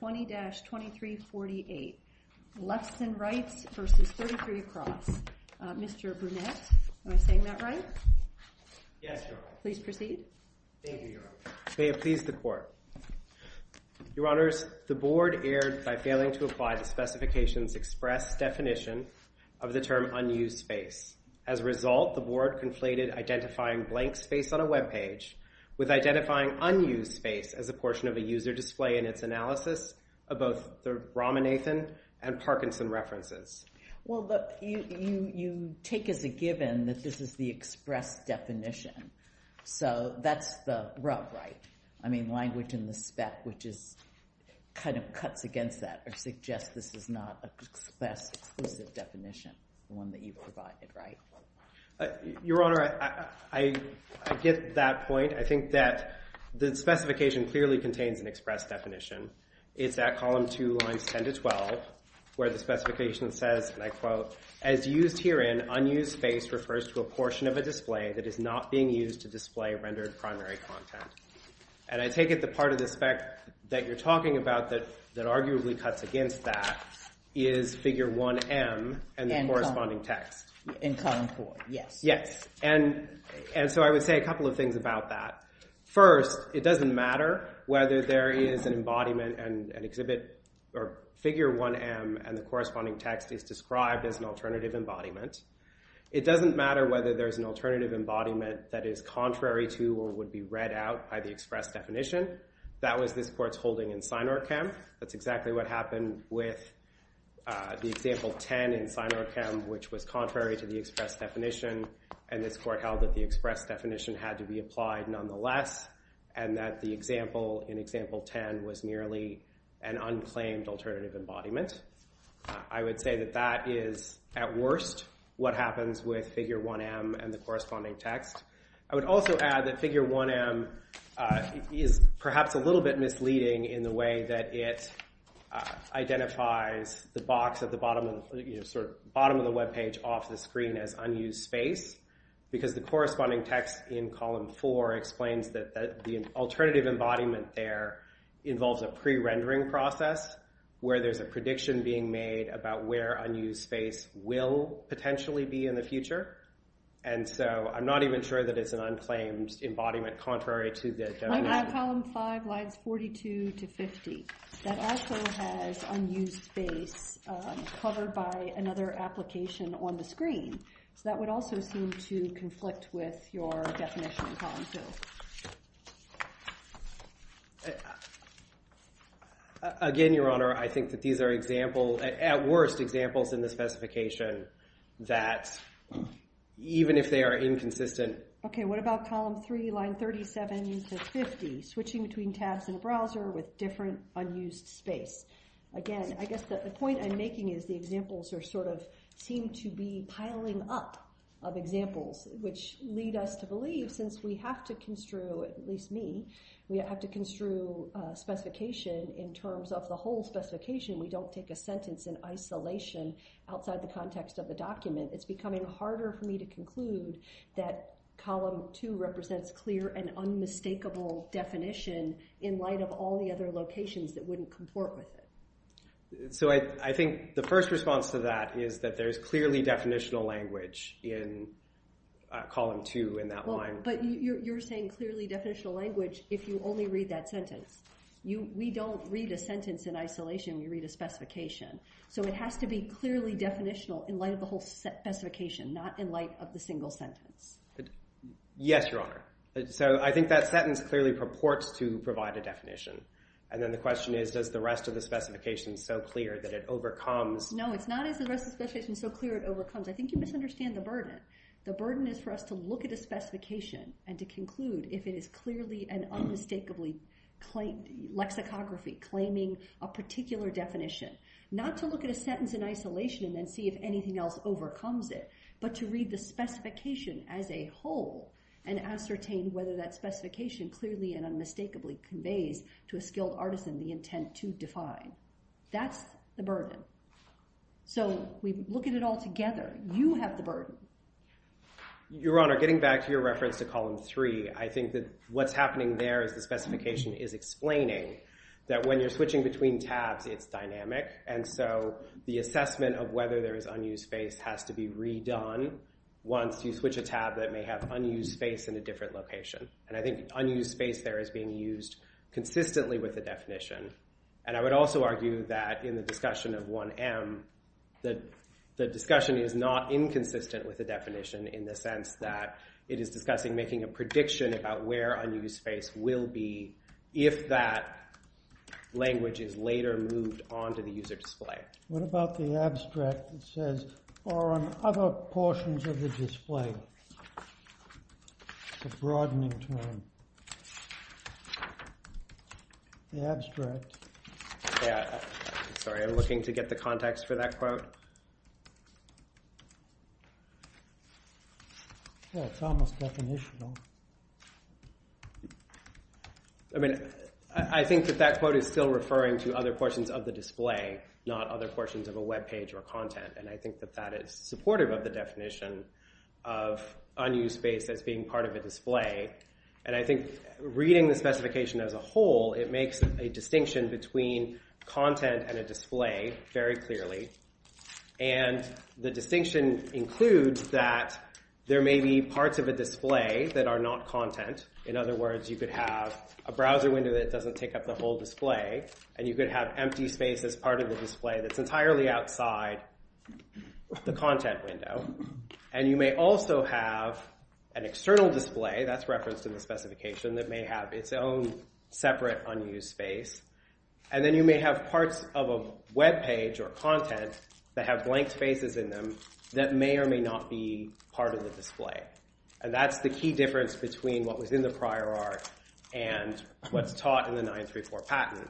20-2348, Lexton Rights v. 33Across. Mr. Burnett, am I saying that right? Yes, Your Honor. Please proceed. Thank you, Your Honor. May it please the Court. Your Honors, the board erred by failing to apply the specifications express definition of the term unused space. As a result, the board conflated identifying blank space on a web page with identifying unused space as a portion of a user display in its analysis of both the Ramanathan and Parkinson references. Well, you take as a given that this is the express definition. So that's the rub, right? I mean, language in the spec, which is kind of cuts against that or suggests this is not an express, exclusive definition, the one that you provided, right? Your Honor, I get that point. I think that the specification clearly contains an express definition. It's at column 2, lines 10 to 12, where the specification says, and I quote, as used herein, unused space refers to a portion of a display that is not being used to display rendered primary content. And I take it the part of the spec that you're talking about that arguably cuts against that is figure 1M and the corresponding text. In column 4, yes. Yes. And so I would say a couple of things about that. First, it doesn't matter whether there is an embodiment and an exhibit, or figure 1M and the corresponding text is described as an alternative embodiment. It doesn't matter whether there is an alternative embodiment that is contrary to or would be read out by the express definition. That was this court's holding in Sinorkim. That's exactly what happened with the example 10 in Sinorkim, which was contrary to the express definition. And this court held that the express definition had to be applied nonetheless, and that the example in example 10 was merely an unclaimed alternative embodiment. I would say that that is, at worst, what happens with figure 1M and the corresponding text. I would also add that figure 1M is perhaps a little bit misleading in the way that it identifies the box at the bottom of the web page off the screen as unused space, because the corresponding text in column 4 explains that the alternative embodiment there involves a pre-rendering process where there's a prediction being made about where unused space will potentially be in the future. And so I'm not even sure that it's an unclaimed embodiment contrary to the definition. Column 5 lines 42 to 50. That also has unused space covered by another application on the screen. So that would also seem to conflict with your definition in column 2. Again, Your Honor, I think that these are examples, at worst, examples in the specification that, even if they are inconsistent. OK, what about column 3, line 37 to 50, switching between tabs in a browser with different unused space? Again, I guess the point I'm making is the examples seem to be piling up of examples, which lead us to believe, since we have to construe, at least me, we have to construe specification in terms of the whole specification. We don't take a sentence in isolation outside the context of the document. It's becoming harder for me to conclude that column 2 represents clear and unmistakable definition in light of all the other locations that wouldn't comport with it. So I think the first response to that is that there is clearly definitional language in column 2 in that line. But you're saying clearly definitional language if you only read that sentence. We don't read a sentence in isolation. We read a specification. So it has to be clearly definitional in light of the whole specification, not in light of the single sentence. Yes, Your Honor. So I think that sentence clearly purports to provide a definition. And then the question is, does the rest of the specification so clear that it overcomes? No, it's not is the rest of the specification so clear it overcomes. I think you misunderstand the burden. The burden is for us to look at a specification and to conclude if it is clearly and unmistakably lexicography, claiming a particular definition. Not to look at a sentence in isolation and then see if anything else overcomes it, but to read the specification as a whole and ascertain whether that specification clearly and unmistakably conveys to a skilled artisan the intent to define. That's the burden. So we look at it all together. You have the burden. Your Honor, getting back to your reference to column three, I think that what's happening there is the specification is explaining that when you're switching between tabs, it's dynamic. And so the assessment of whether there is unused space has to be redone once you switch a tab that may have unused space in a different location. And I think unused space there is being used consistently with the definition. And I would also argue that in the discussion of 1M, the discussion is not inconsistent with the definition in the sense that it is discussing making a prediction about where unused space will be if that language is later moved onto the user display. What about the abstract that says, or on other portions of the display, the broadening term, the abstract? Yeah, sorry, I'm looking to get the context for that quote. Well, it's almost definitional. I mean, I think that that quote is still referring to other portions of the display, not other portions of a web page or content. And I think that that is supportive of the definition of unused space as being part of a display. And I think reading the specification as a whole, it makes a distinction between content and a display very clearly. And the distinction includes that there may be parts of a display that are not content. In other words, you could have a browser window that doesn't take up the whole display, and you could have empty space as part of the display that's the content window. And you may also have an external display that's referenced in the specification that may have its own separate unused space. And then you may have parts of a web page or content that have blank spaces in them that may or may not be part of the display. And that's the key difference between what was in the prior art and what's taught in the 934 patent.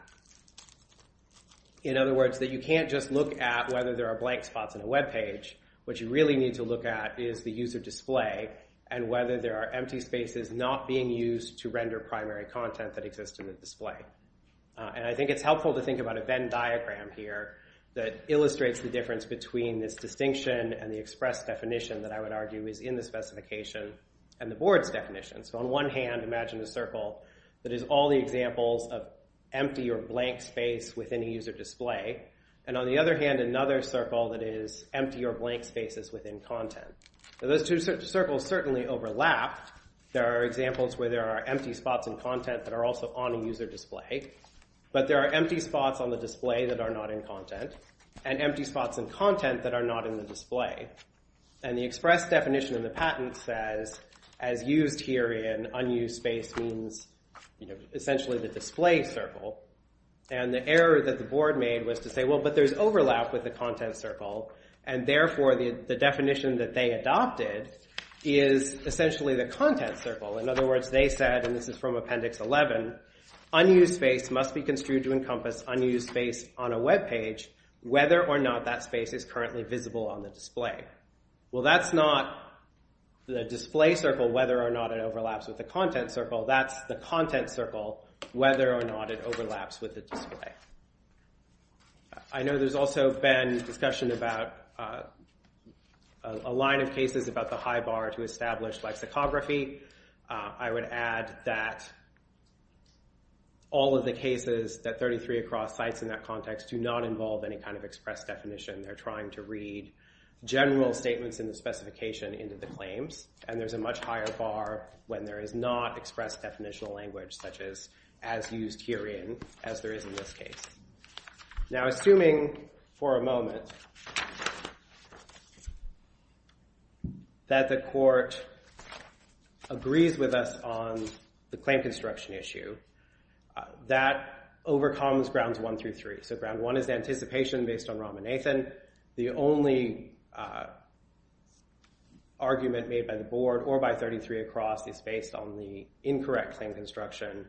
In other words, that you can't just look at whether there are blank spots in a web page. What you really need to look at is the user display and whether there are empty spaces not being used to render primary content that exists in the display. And I think it's helpful to think about a Venn diagram here that illustrates the difference between this distinction and the express definition that I would argue is in the specification and the board's definition. So on one hand, imagine a circle that is all the examples of empty or blank space within a user display. And on the other hand, another circle that is empty or blank spaces within content. Those two circles certainly overlap. There are examples where there are empty spots in content that are also on a user display. But there are empty spots on the display that are not in content and empty spots in content that are not in the display. And the express definition in the patent says, as used here in unused space means essentially the display circle. And the error that the board made was to say, well, but there's overlap with the content circle. And therefore, the definition that they adopted is essentially the content circle. In other words, they said, and this is from Appendix 11, unused space must be construed to encompass unused space on a web page whether or not that space is currently visible on the display. Well, that's not the display circle, whether or not it overlaps with the content circle. That's the content circle, whether or not it overlaps with the display. I know there's also been discussion about a line of cases about the high bar to establish lexicography. I would add that all of the cases, that 33 across sites in that context, do not involve any kind of express definition. They're trying to read general statements in the specification into the claims. And there's a much higher bar when there is not expressed definitional language, such as used herein, as there is in this case. Now, assuming for a moment that the court agrees with us on the claim construction issue, that overcomes Grounds 1 through 3. So Ground 1 is anticipation based on Ramanathan. The only argument made by the board or by 33 across is based on the incorrect claim construction.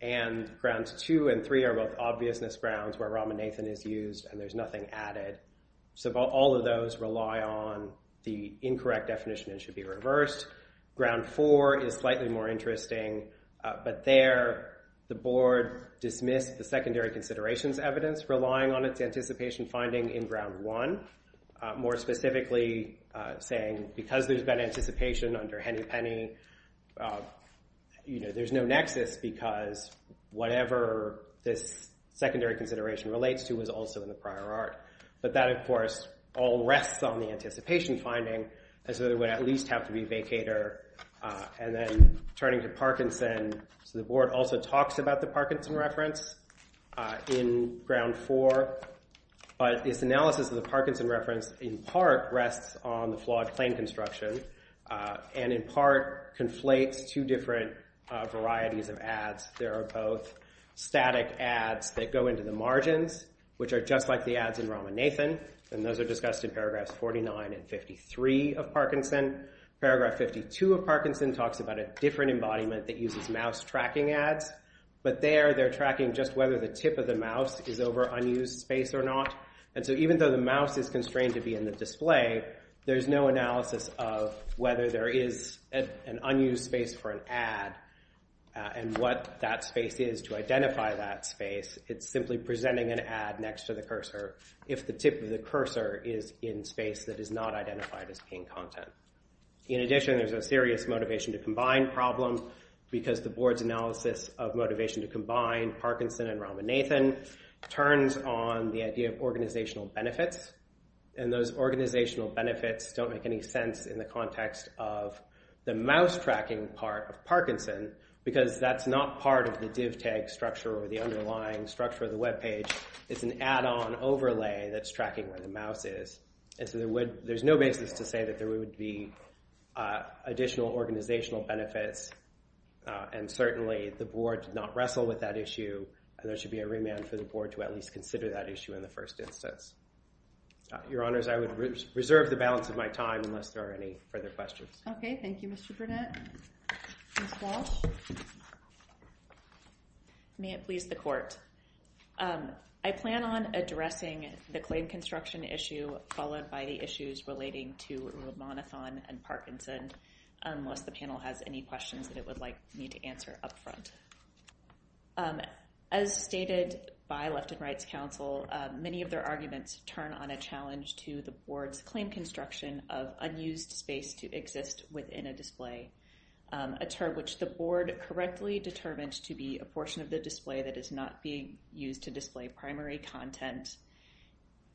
And Grounds 2 and 3 are both obviousness grounds where Ramanathan is used, and there's nothing added. So all of those rely on the incorrect definition and should be reversed. Ground 4 is slightly more interesting. But there, the board dismissed the secondary considerations evidence, relying on its anticipation finding in Ground 1. More specifically saying, because there's that anticipation under Hennepenny, there's no nexus, because whatever this secondary consideration relates to is also in the prior art. But that, of course, all rests on the anticipation finding, as though there would at least have to be vacator. And then turning to Parkinson, so the board also talks about the Parkinson reference in Ground 4. But this analysis of the Parkinson reference, in part, rests on the flawed claim construction, and in part, conflates two different varieties of ads. There are both static ads that go into the margins, which are just like the ads in Ramanathan. And those are discussed in paragraphs 49 and 53 of Parkinson. Paragraph 52 of Parkinson talks about a different embodiment that uses mouse tracking ads. But there, they're tracking just whether the tip of the mouse is over unused space or not. And so even though the mouse is constrained to be in the display, there's no analysis of whether there is an unused space for an ad, and what that space is to identify that space. It's simply presenting an ad next to the cursor, if the tip of the cursor is in space that is not identified as being content. In addition, there's a serious motivation to combine problem, because the board's analysis of motivation to combine Parkinson and Ramanathan turns on the idea of organizational benefits. And those organizational benefits don't make any sense in the context of the mouse tracking part of Parkinson, because that's not part of the div tag structure or the underlying structure of the web page. It's an add-on overlay that's tracking where the mouse is. And so there's no basis to say that there would be additional organizational benefits. And certainly, the board did not wrestle with that issue. And there should be a remand for the board to at least consider that issue in the first instance. Your Honors, I would reserve the balance of my time unless there are any further questions. OK, thank you, Mr. Burnett. Ms. Walsh? May it please the court. I plan on addressing the claim construction issue, followed by the issues relating to Ramanathan and Parkinson, unless the panel has any questions that it would like me to answer up front. First, as stated by Left and Rights Council, many of their arguments turn on a challenge to the board's claim construction of unused space to exist within a display, a term which the board correctly determined to be a portion of the display that is not being used to display primary content.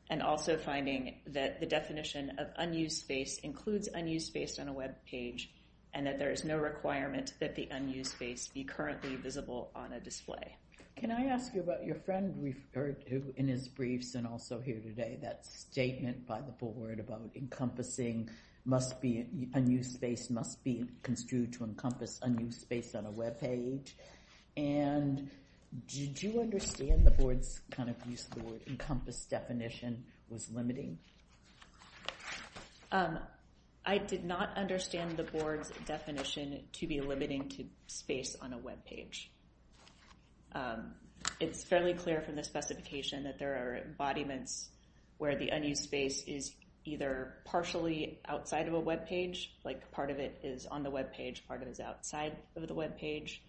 And also finding that the definition of unused space includes unused space on a web page, and that there is no requirement that the unused space be currently visible on a display. Can I ask you about your friend referred to in his briefs and also here today, that statement by the board about encompassing must be, unused space must be construed to encompass unused space on a web page. And did you understand the board's kind of use of the word encompass definition was limiting? I did not understand the board's definition to be limiting to space on a web page. It's fairly clear from the specification that there are embodiments where the unused space is either partially outside of a web page, like part of it is on the web page, part of it is outside of the web page.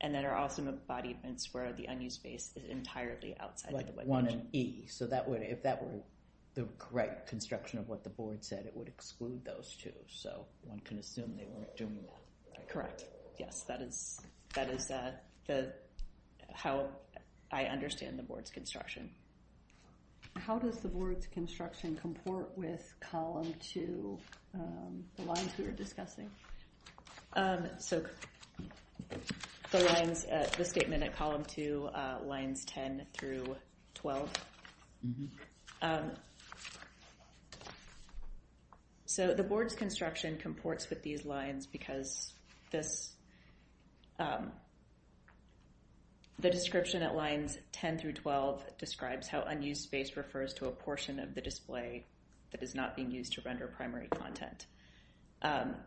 And there are also embodiments where the unused space is entirely outside the web page. Like 1 and E. So that would, if that were the correct construction of what the board said, it would exclude those two. So one can assume they weren't doing that. Correct. Yes, that is how I understand the board's construction. How does the board's construction comport with column 2, the lines we were discussing? So the lines, the statement at column 2, lines 10 through 12. Mm-hmm. So the board's construction comports with these lines because the description at lines 10 through 12 describes how unused space refers to a portion of the display that is not being used to render primary content.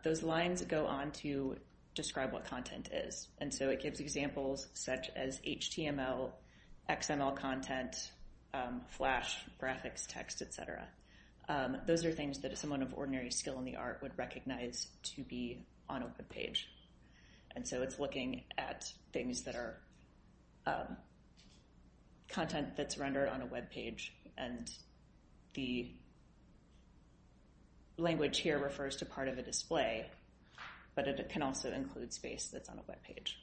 Those lines go on to describe what content is. And so it gives examples such as HTML, XML content, flash, graphics, text, et cetera. Those are things that someone of ordinary skill in the art would recognize to be on a web page. And so it's looking at things that are content that's rendered on a web page. And the language here refers to part of a display, but it can also include space that's on a web page.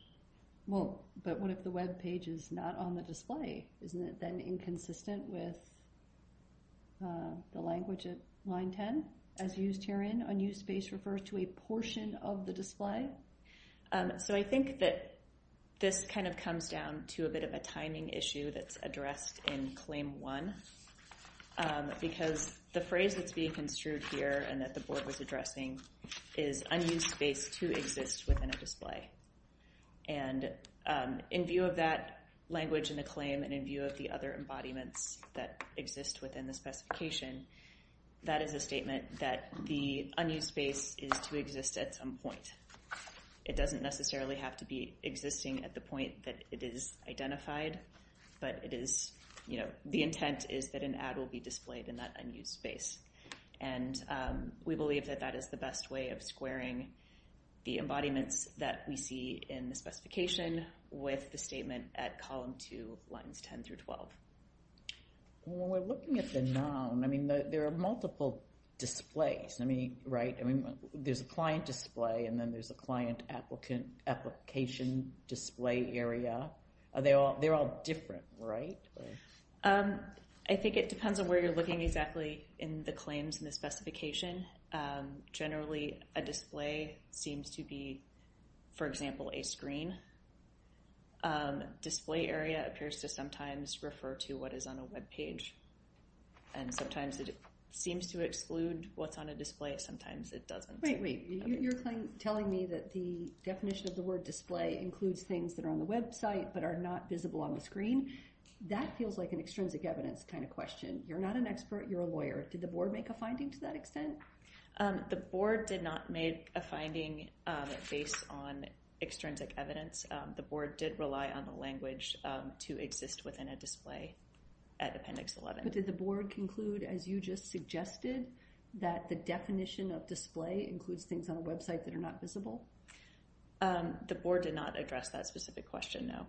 Well, but what if the web page is not on the display? Isn't it then inconsistent with the language at line 10? As used herein, unused space refers to a portion of the display? So I think that this kind of comes down to a bit of a timing issue that's addressed in claim 1 because the phrase that's being construed here and that the board was addressing is unused space to exist within a display. And in view of that language in the claim and in view of the other embodiments that exist within the specification, that is a statement that the unused space is to exist at some point. It doesn't necessarily have to be existing at the point that it is identified, but the intent is that an ad will be displayed in that unused space. And we believe that that is the best way of squaring the embodiments that we see in the specification with the statement at column 2, lines 10 through 12. When we're looking at the noun, I mean, there are multiple displays, right? I mean, there's a client display, and then there's a client application display area. They're all different, right? I think it depends on where you're looking exactly in the claims and the specification. Generally, a display seems to be, for example, a screen. Display area appears to sometimes refer to what is on a web page. And sometimes it seems to exclude what's on a display. Sometimes it doesn't. Wait, wait. You're telling me that the definition of the word display includes things that are on the website but are not visible on the screen. That feels like an extrinsic evidence kind of question. You're not an expert. You're a lawyer. Did the board make a finding to that extent? The board did not make a finding based on extrinsic evidence. The board did rely on the language to exist within a display at appendix 11. But did the board conclude, as you just suggested, that the definition of display includes things on a website that are not visible? The board did not address that specific question, no.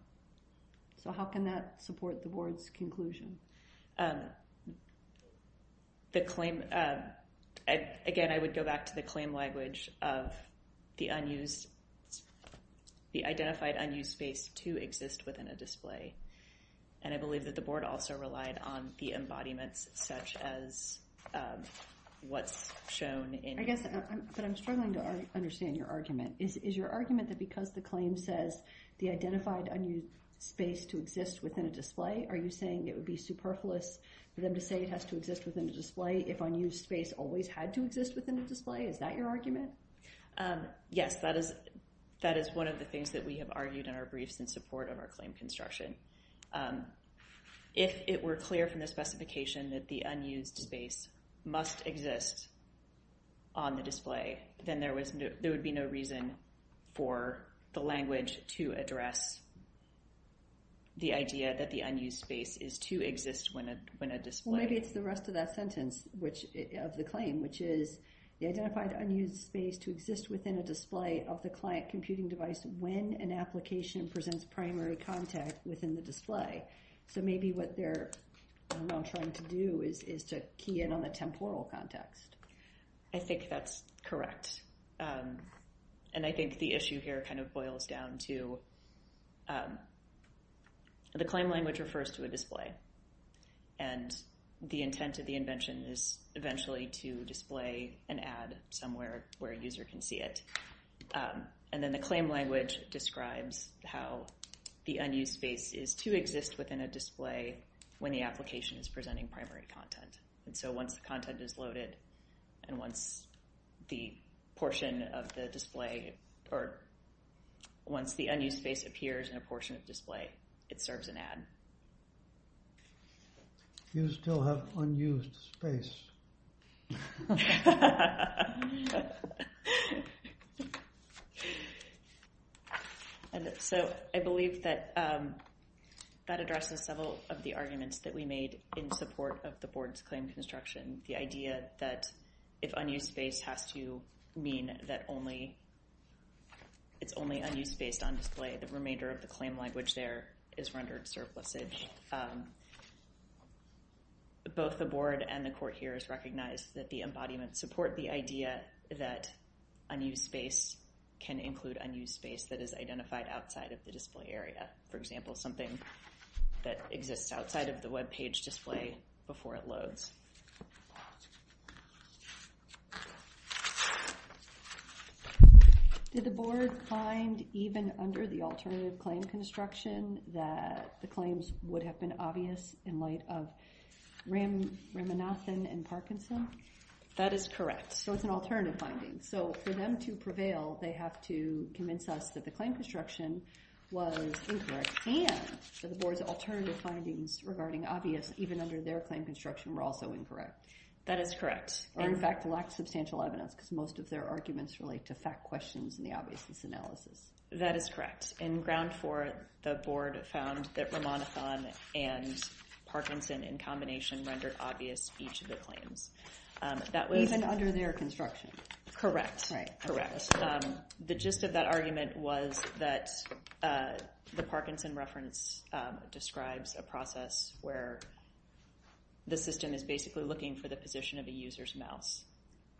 So how can that support the board's conclusion? Again, I would go back to the claim language of the identified unused space to exist within a display. And I believe that the board also relied on the embodiments, such as what's shown in here. But I'm struggling to understand your argument. Is your argument that because the claim says the identified unused space to exist within a display, are you saying it would be superfluous for them to say it has to exist within a display if unused space always had to exist within a display? Is that your argument? Yes, that is one of the things that we have argued in our briefs in support of our claim construction. If it were clear from the specification that the unused space must exist on the display, then there would be no reason for the language to address the idea that the unused space is to exist when a display. Well, maybe it's the rest of that sentence of the claim, which is the identified unused space to exist within a display of the client computing device when an application presents primary contact within the display. So maybe what they're now trying to do is to key in on the temporal context. I think that's correct. And I think the issue here kind of boils down to the claim language refers to a display. And the intent of the invention is eventually to display an ad somewhere where a user can see it. And then the claim language describes how the unused space is to exist within a display when the application is presenting primary content. And so once the content is loaded, and once the portion of the display, or once the unused space appears in a portion of display, it serves an ad. You still have unused space. So I believe that that addresses several of the arguments that we made in support of the board's claim construction. The idea that if unused space has to mean that it's only unused based on display, the remainder of the claim language there is rendered surplicit. Both the board and the court here has recognized that the embodiments support the idea that unused space can include unused space that is identified outside of the display area. display before it loads. Did the board find, even under the alternative claim construction, that the claims would have been obvious in light of Ramanathan and Parkinson? That is correct. So it's an alternative finding. So for them to prevail, they have to convince us that the claim construction was incorrect. And that the board's alternative findings regarding obvious even under their claim construction were also incorrect. That is correct. Or in fact, lacked substantial evidence because most of their arguments relate to fact questions and the obviousness analysis. That is correct. In ground four, the board found that Ramanathan and Parkinson in combination rendered obvious each of the claims. Even under their construction? Correct. Correct. The gist of that argument was that the Parkinson reference describes a process where the system is basically looking for the position of a user's mouse.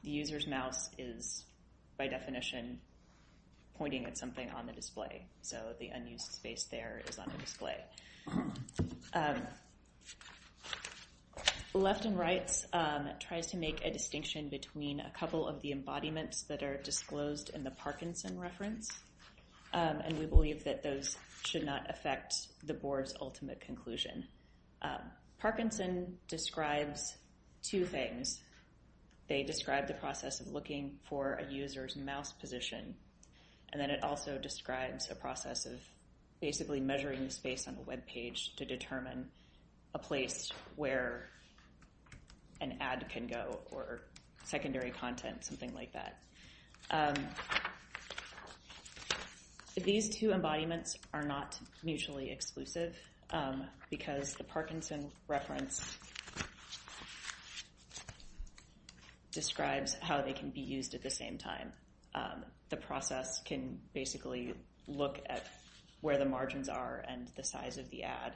The user's mouse is, by definition, pointing at something on the display. So the unused space there is on the display. Left and Right tries to make a distinction between a couple of the embodiments that are disclosed in the Parkinson reference. And we believe that those should not affect the board's ultimate conclusion. Parkinson describes two things. They describe the process of looking for a user's mouse position. And then it also describes a process of basically measuring the space on the web page to determine a place where an ad can go, or secondary content, something like that. These two embodiments are not mutually exclusive because the Parkinson reference describes how they can be used at the same time. The process can basically look at where the margins are and the size of the ad,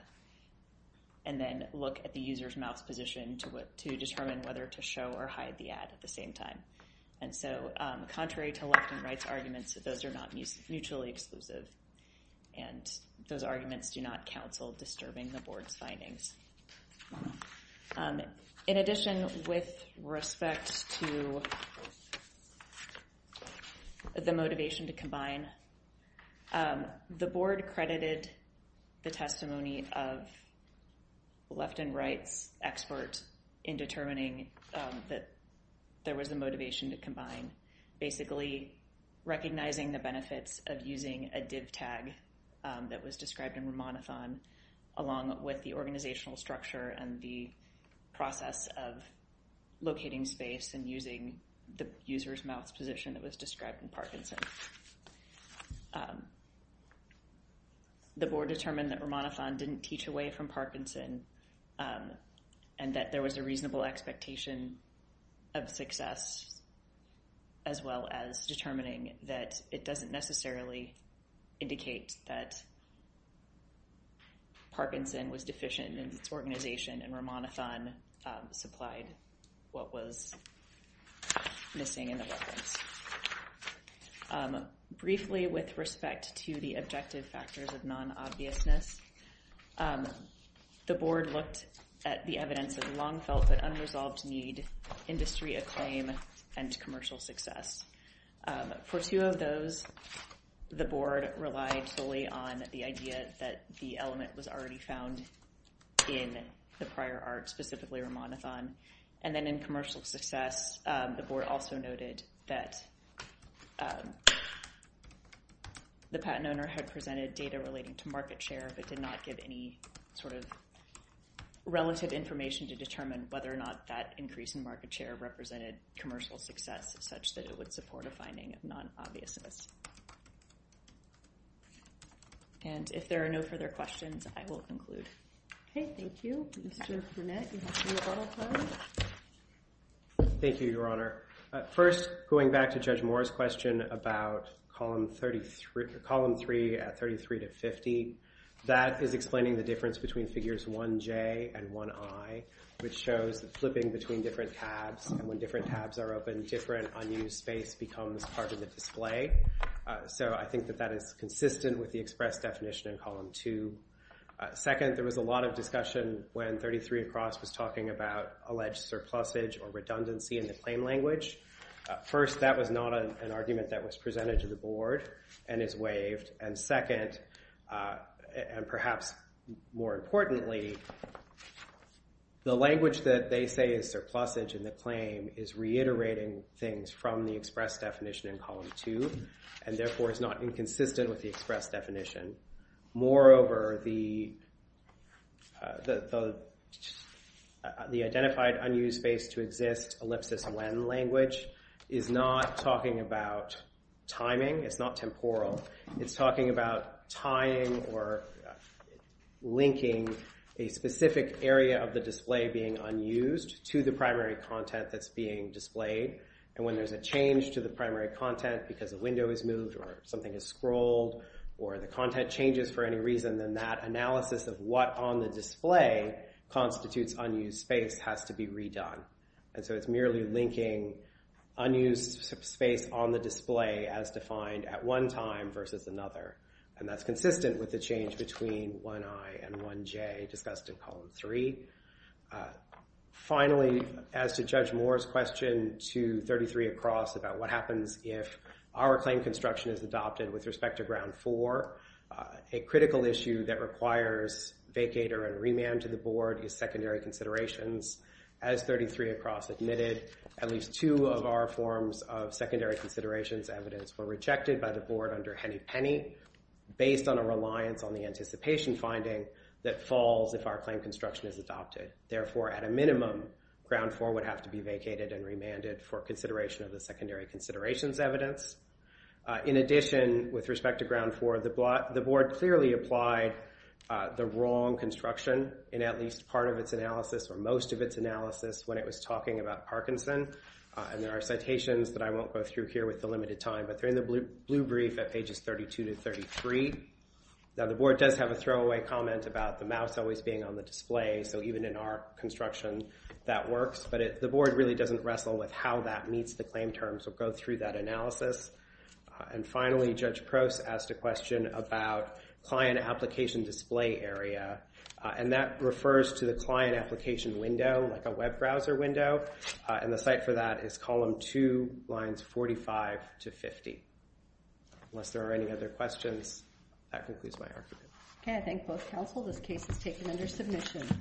and then look at the user's mouse position to determine whether to show or hide the ad at the same time. And so contrary to Left and Right's arguments, those are not mutually exclusive. And those arguments do not counsel disturbing the board's findings. In addition, with respect to the motivation to combine, the board credited the testimony of Left and Right's expert in determining that there was a motivation to combine, basically recognizing the benefits of using a div tag that was described in Ramanathan, along with the organizational structure and the process of locating space and using the user's mouse position that was described in Parkinson. The board determined that Ramanathan didn't teach away from Parkinson, and that there was a reasonable expectation of success, as well as determining that it doesn't necessarily indicate that Parkinson was deficient in its organization and Ramanathan supplied what was missing in the weapons. Briefly, with respect to the objective factors of non-obviousness, the board looked at the evidence of long-felt but unresolved need, industry acclaim, and commercial success. For two of those, the board relied solely on the idea that the element was already found in the prior art, specifically Ramanathan. And then in commercial success, the board also noted that the patent owner had presented data relating to market share, but did not give any sort of relative information to determine whether or not that increase in market share represented commercial success such that it would support a finding of non-obviousness. And if there are no further questions, I will conclude. OK. Thank you. Mr. Burnett, you have three minutes left. Thank you, Your Honor. First, going back to Judge Moore's question about column 3 at 33 to 50, that is explaining the difference between figures 1J and 1I, which shows the flipping between different tabs. And when different tabs are open, different unused space becomes part of the display. So I think that that is consistent with the express definition in column 2. Second, there was a lot of discussion when 33 across was talking about alleged surplusage or redundancy in the claim language. First, that was not an argument that was presented to the board and is waived. And second, and perhaps more importantly, the language that they say is surplusage in the claim is reiterating things from the express definition in column 2, and therefore is not inconsistent with the express definition. Moreover, the identified unused space to exist ellipsis when language is not talking about timing. It's not temporal. It's talking about tying or linking a specific area of the display being unused to the primary content that's being displayed. And when there's a change to the primary content because a window is moved or something is scrolled or the content changes for any reason, then that analysis of what on the display constitutes unused space has to be redone. And so it's merely linking unused space on the display as defined at one time versus another. And that's consistent with the change between 1i and 1j discussed in column 3. Finally, as to Judge Moore's question to 33 across about what happens if our claim construction is adopted with respect to ground 4, a critical issue that requires vacater and remand to the board is secondary considerations. As 33 across admitted, at least two of our forms of secondary considerations evidence were rejected by the board under Henny-Penney based on a reliance on the anticipation finding that falls if our claim construction is adopted. Therefore, at a minimum, ground 4 would have to be vacated and remanded for consideration of the secondary considerations evidence. In addition, with respect to ground 4, in at least part of its analysis or most of its analysis when it was talking about Parkinson, and there are citations that I won't go through here with the limited time. But they're in the blue brief at pages 32 to 33. Now, the board does have a throwaway comment about the mouse always being on the display. So even in our construction, that works. But the board really doesn't wrestle with how that meets the claim term. So go through that analysis. And finally, Judge Proce asked a question about client application display area. And that refers to the client application window, like a web browser window. And the site for that is column 2, lines 45 to 50. Unless there are any other questions, that concludes my argument. OK, I thank both counsel. This case is taken under submission.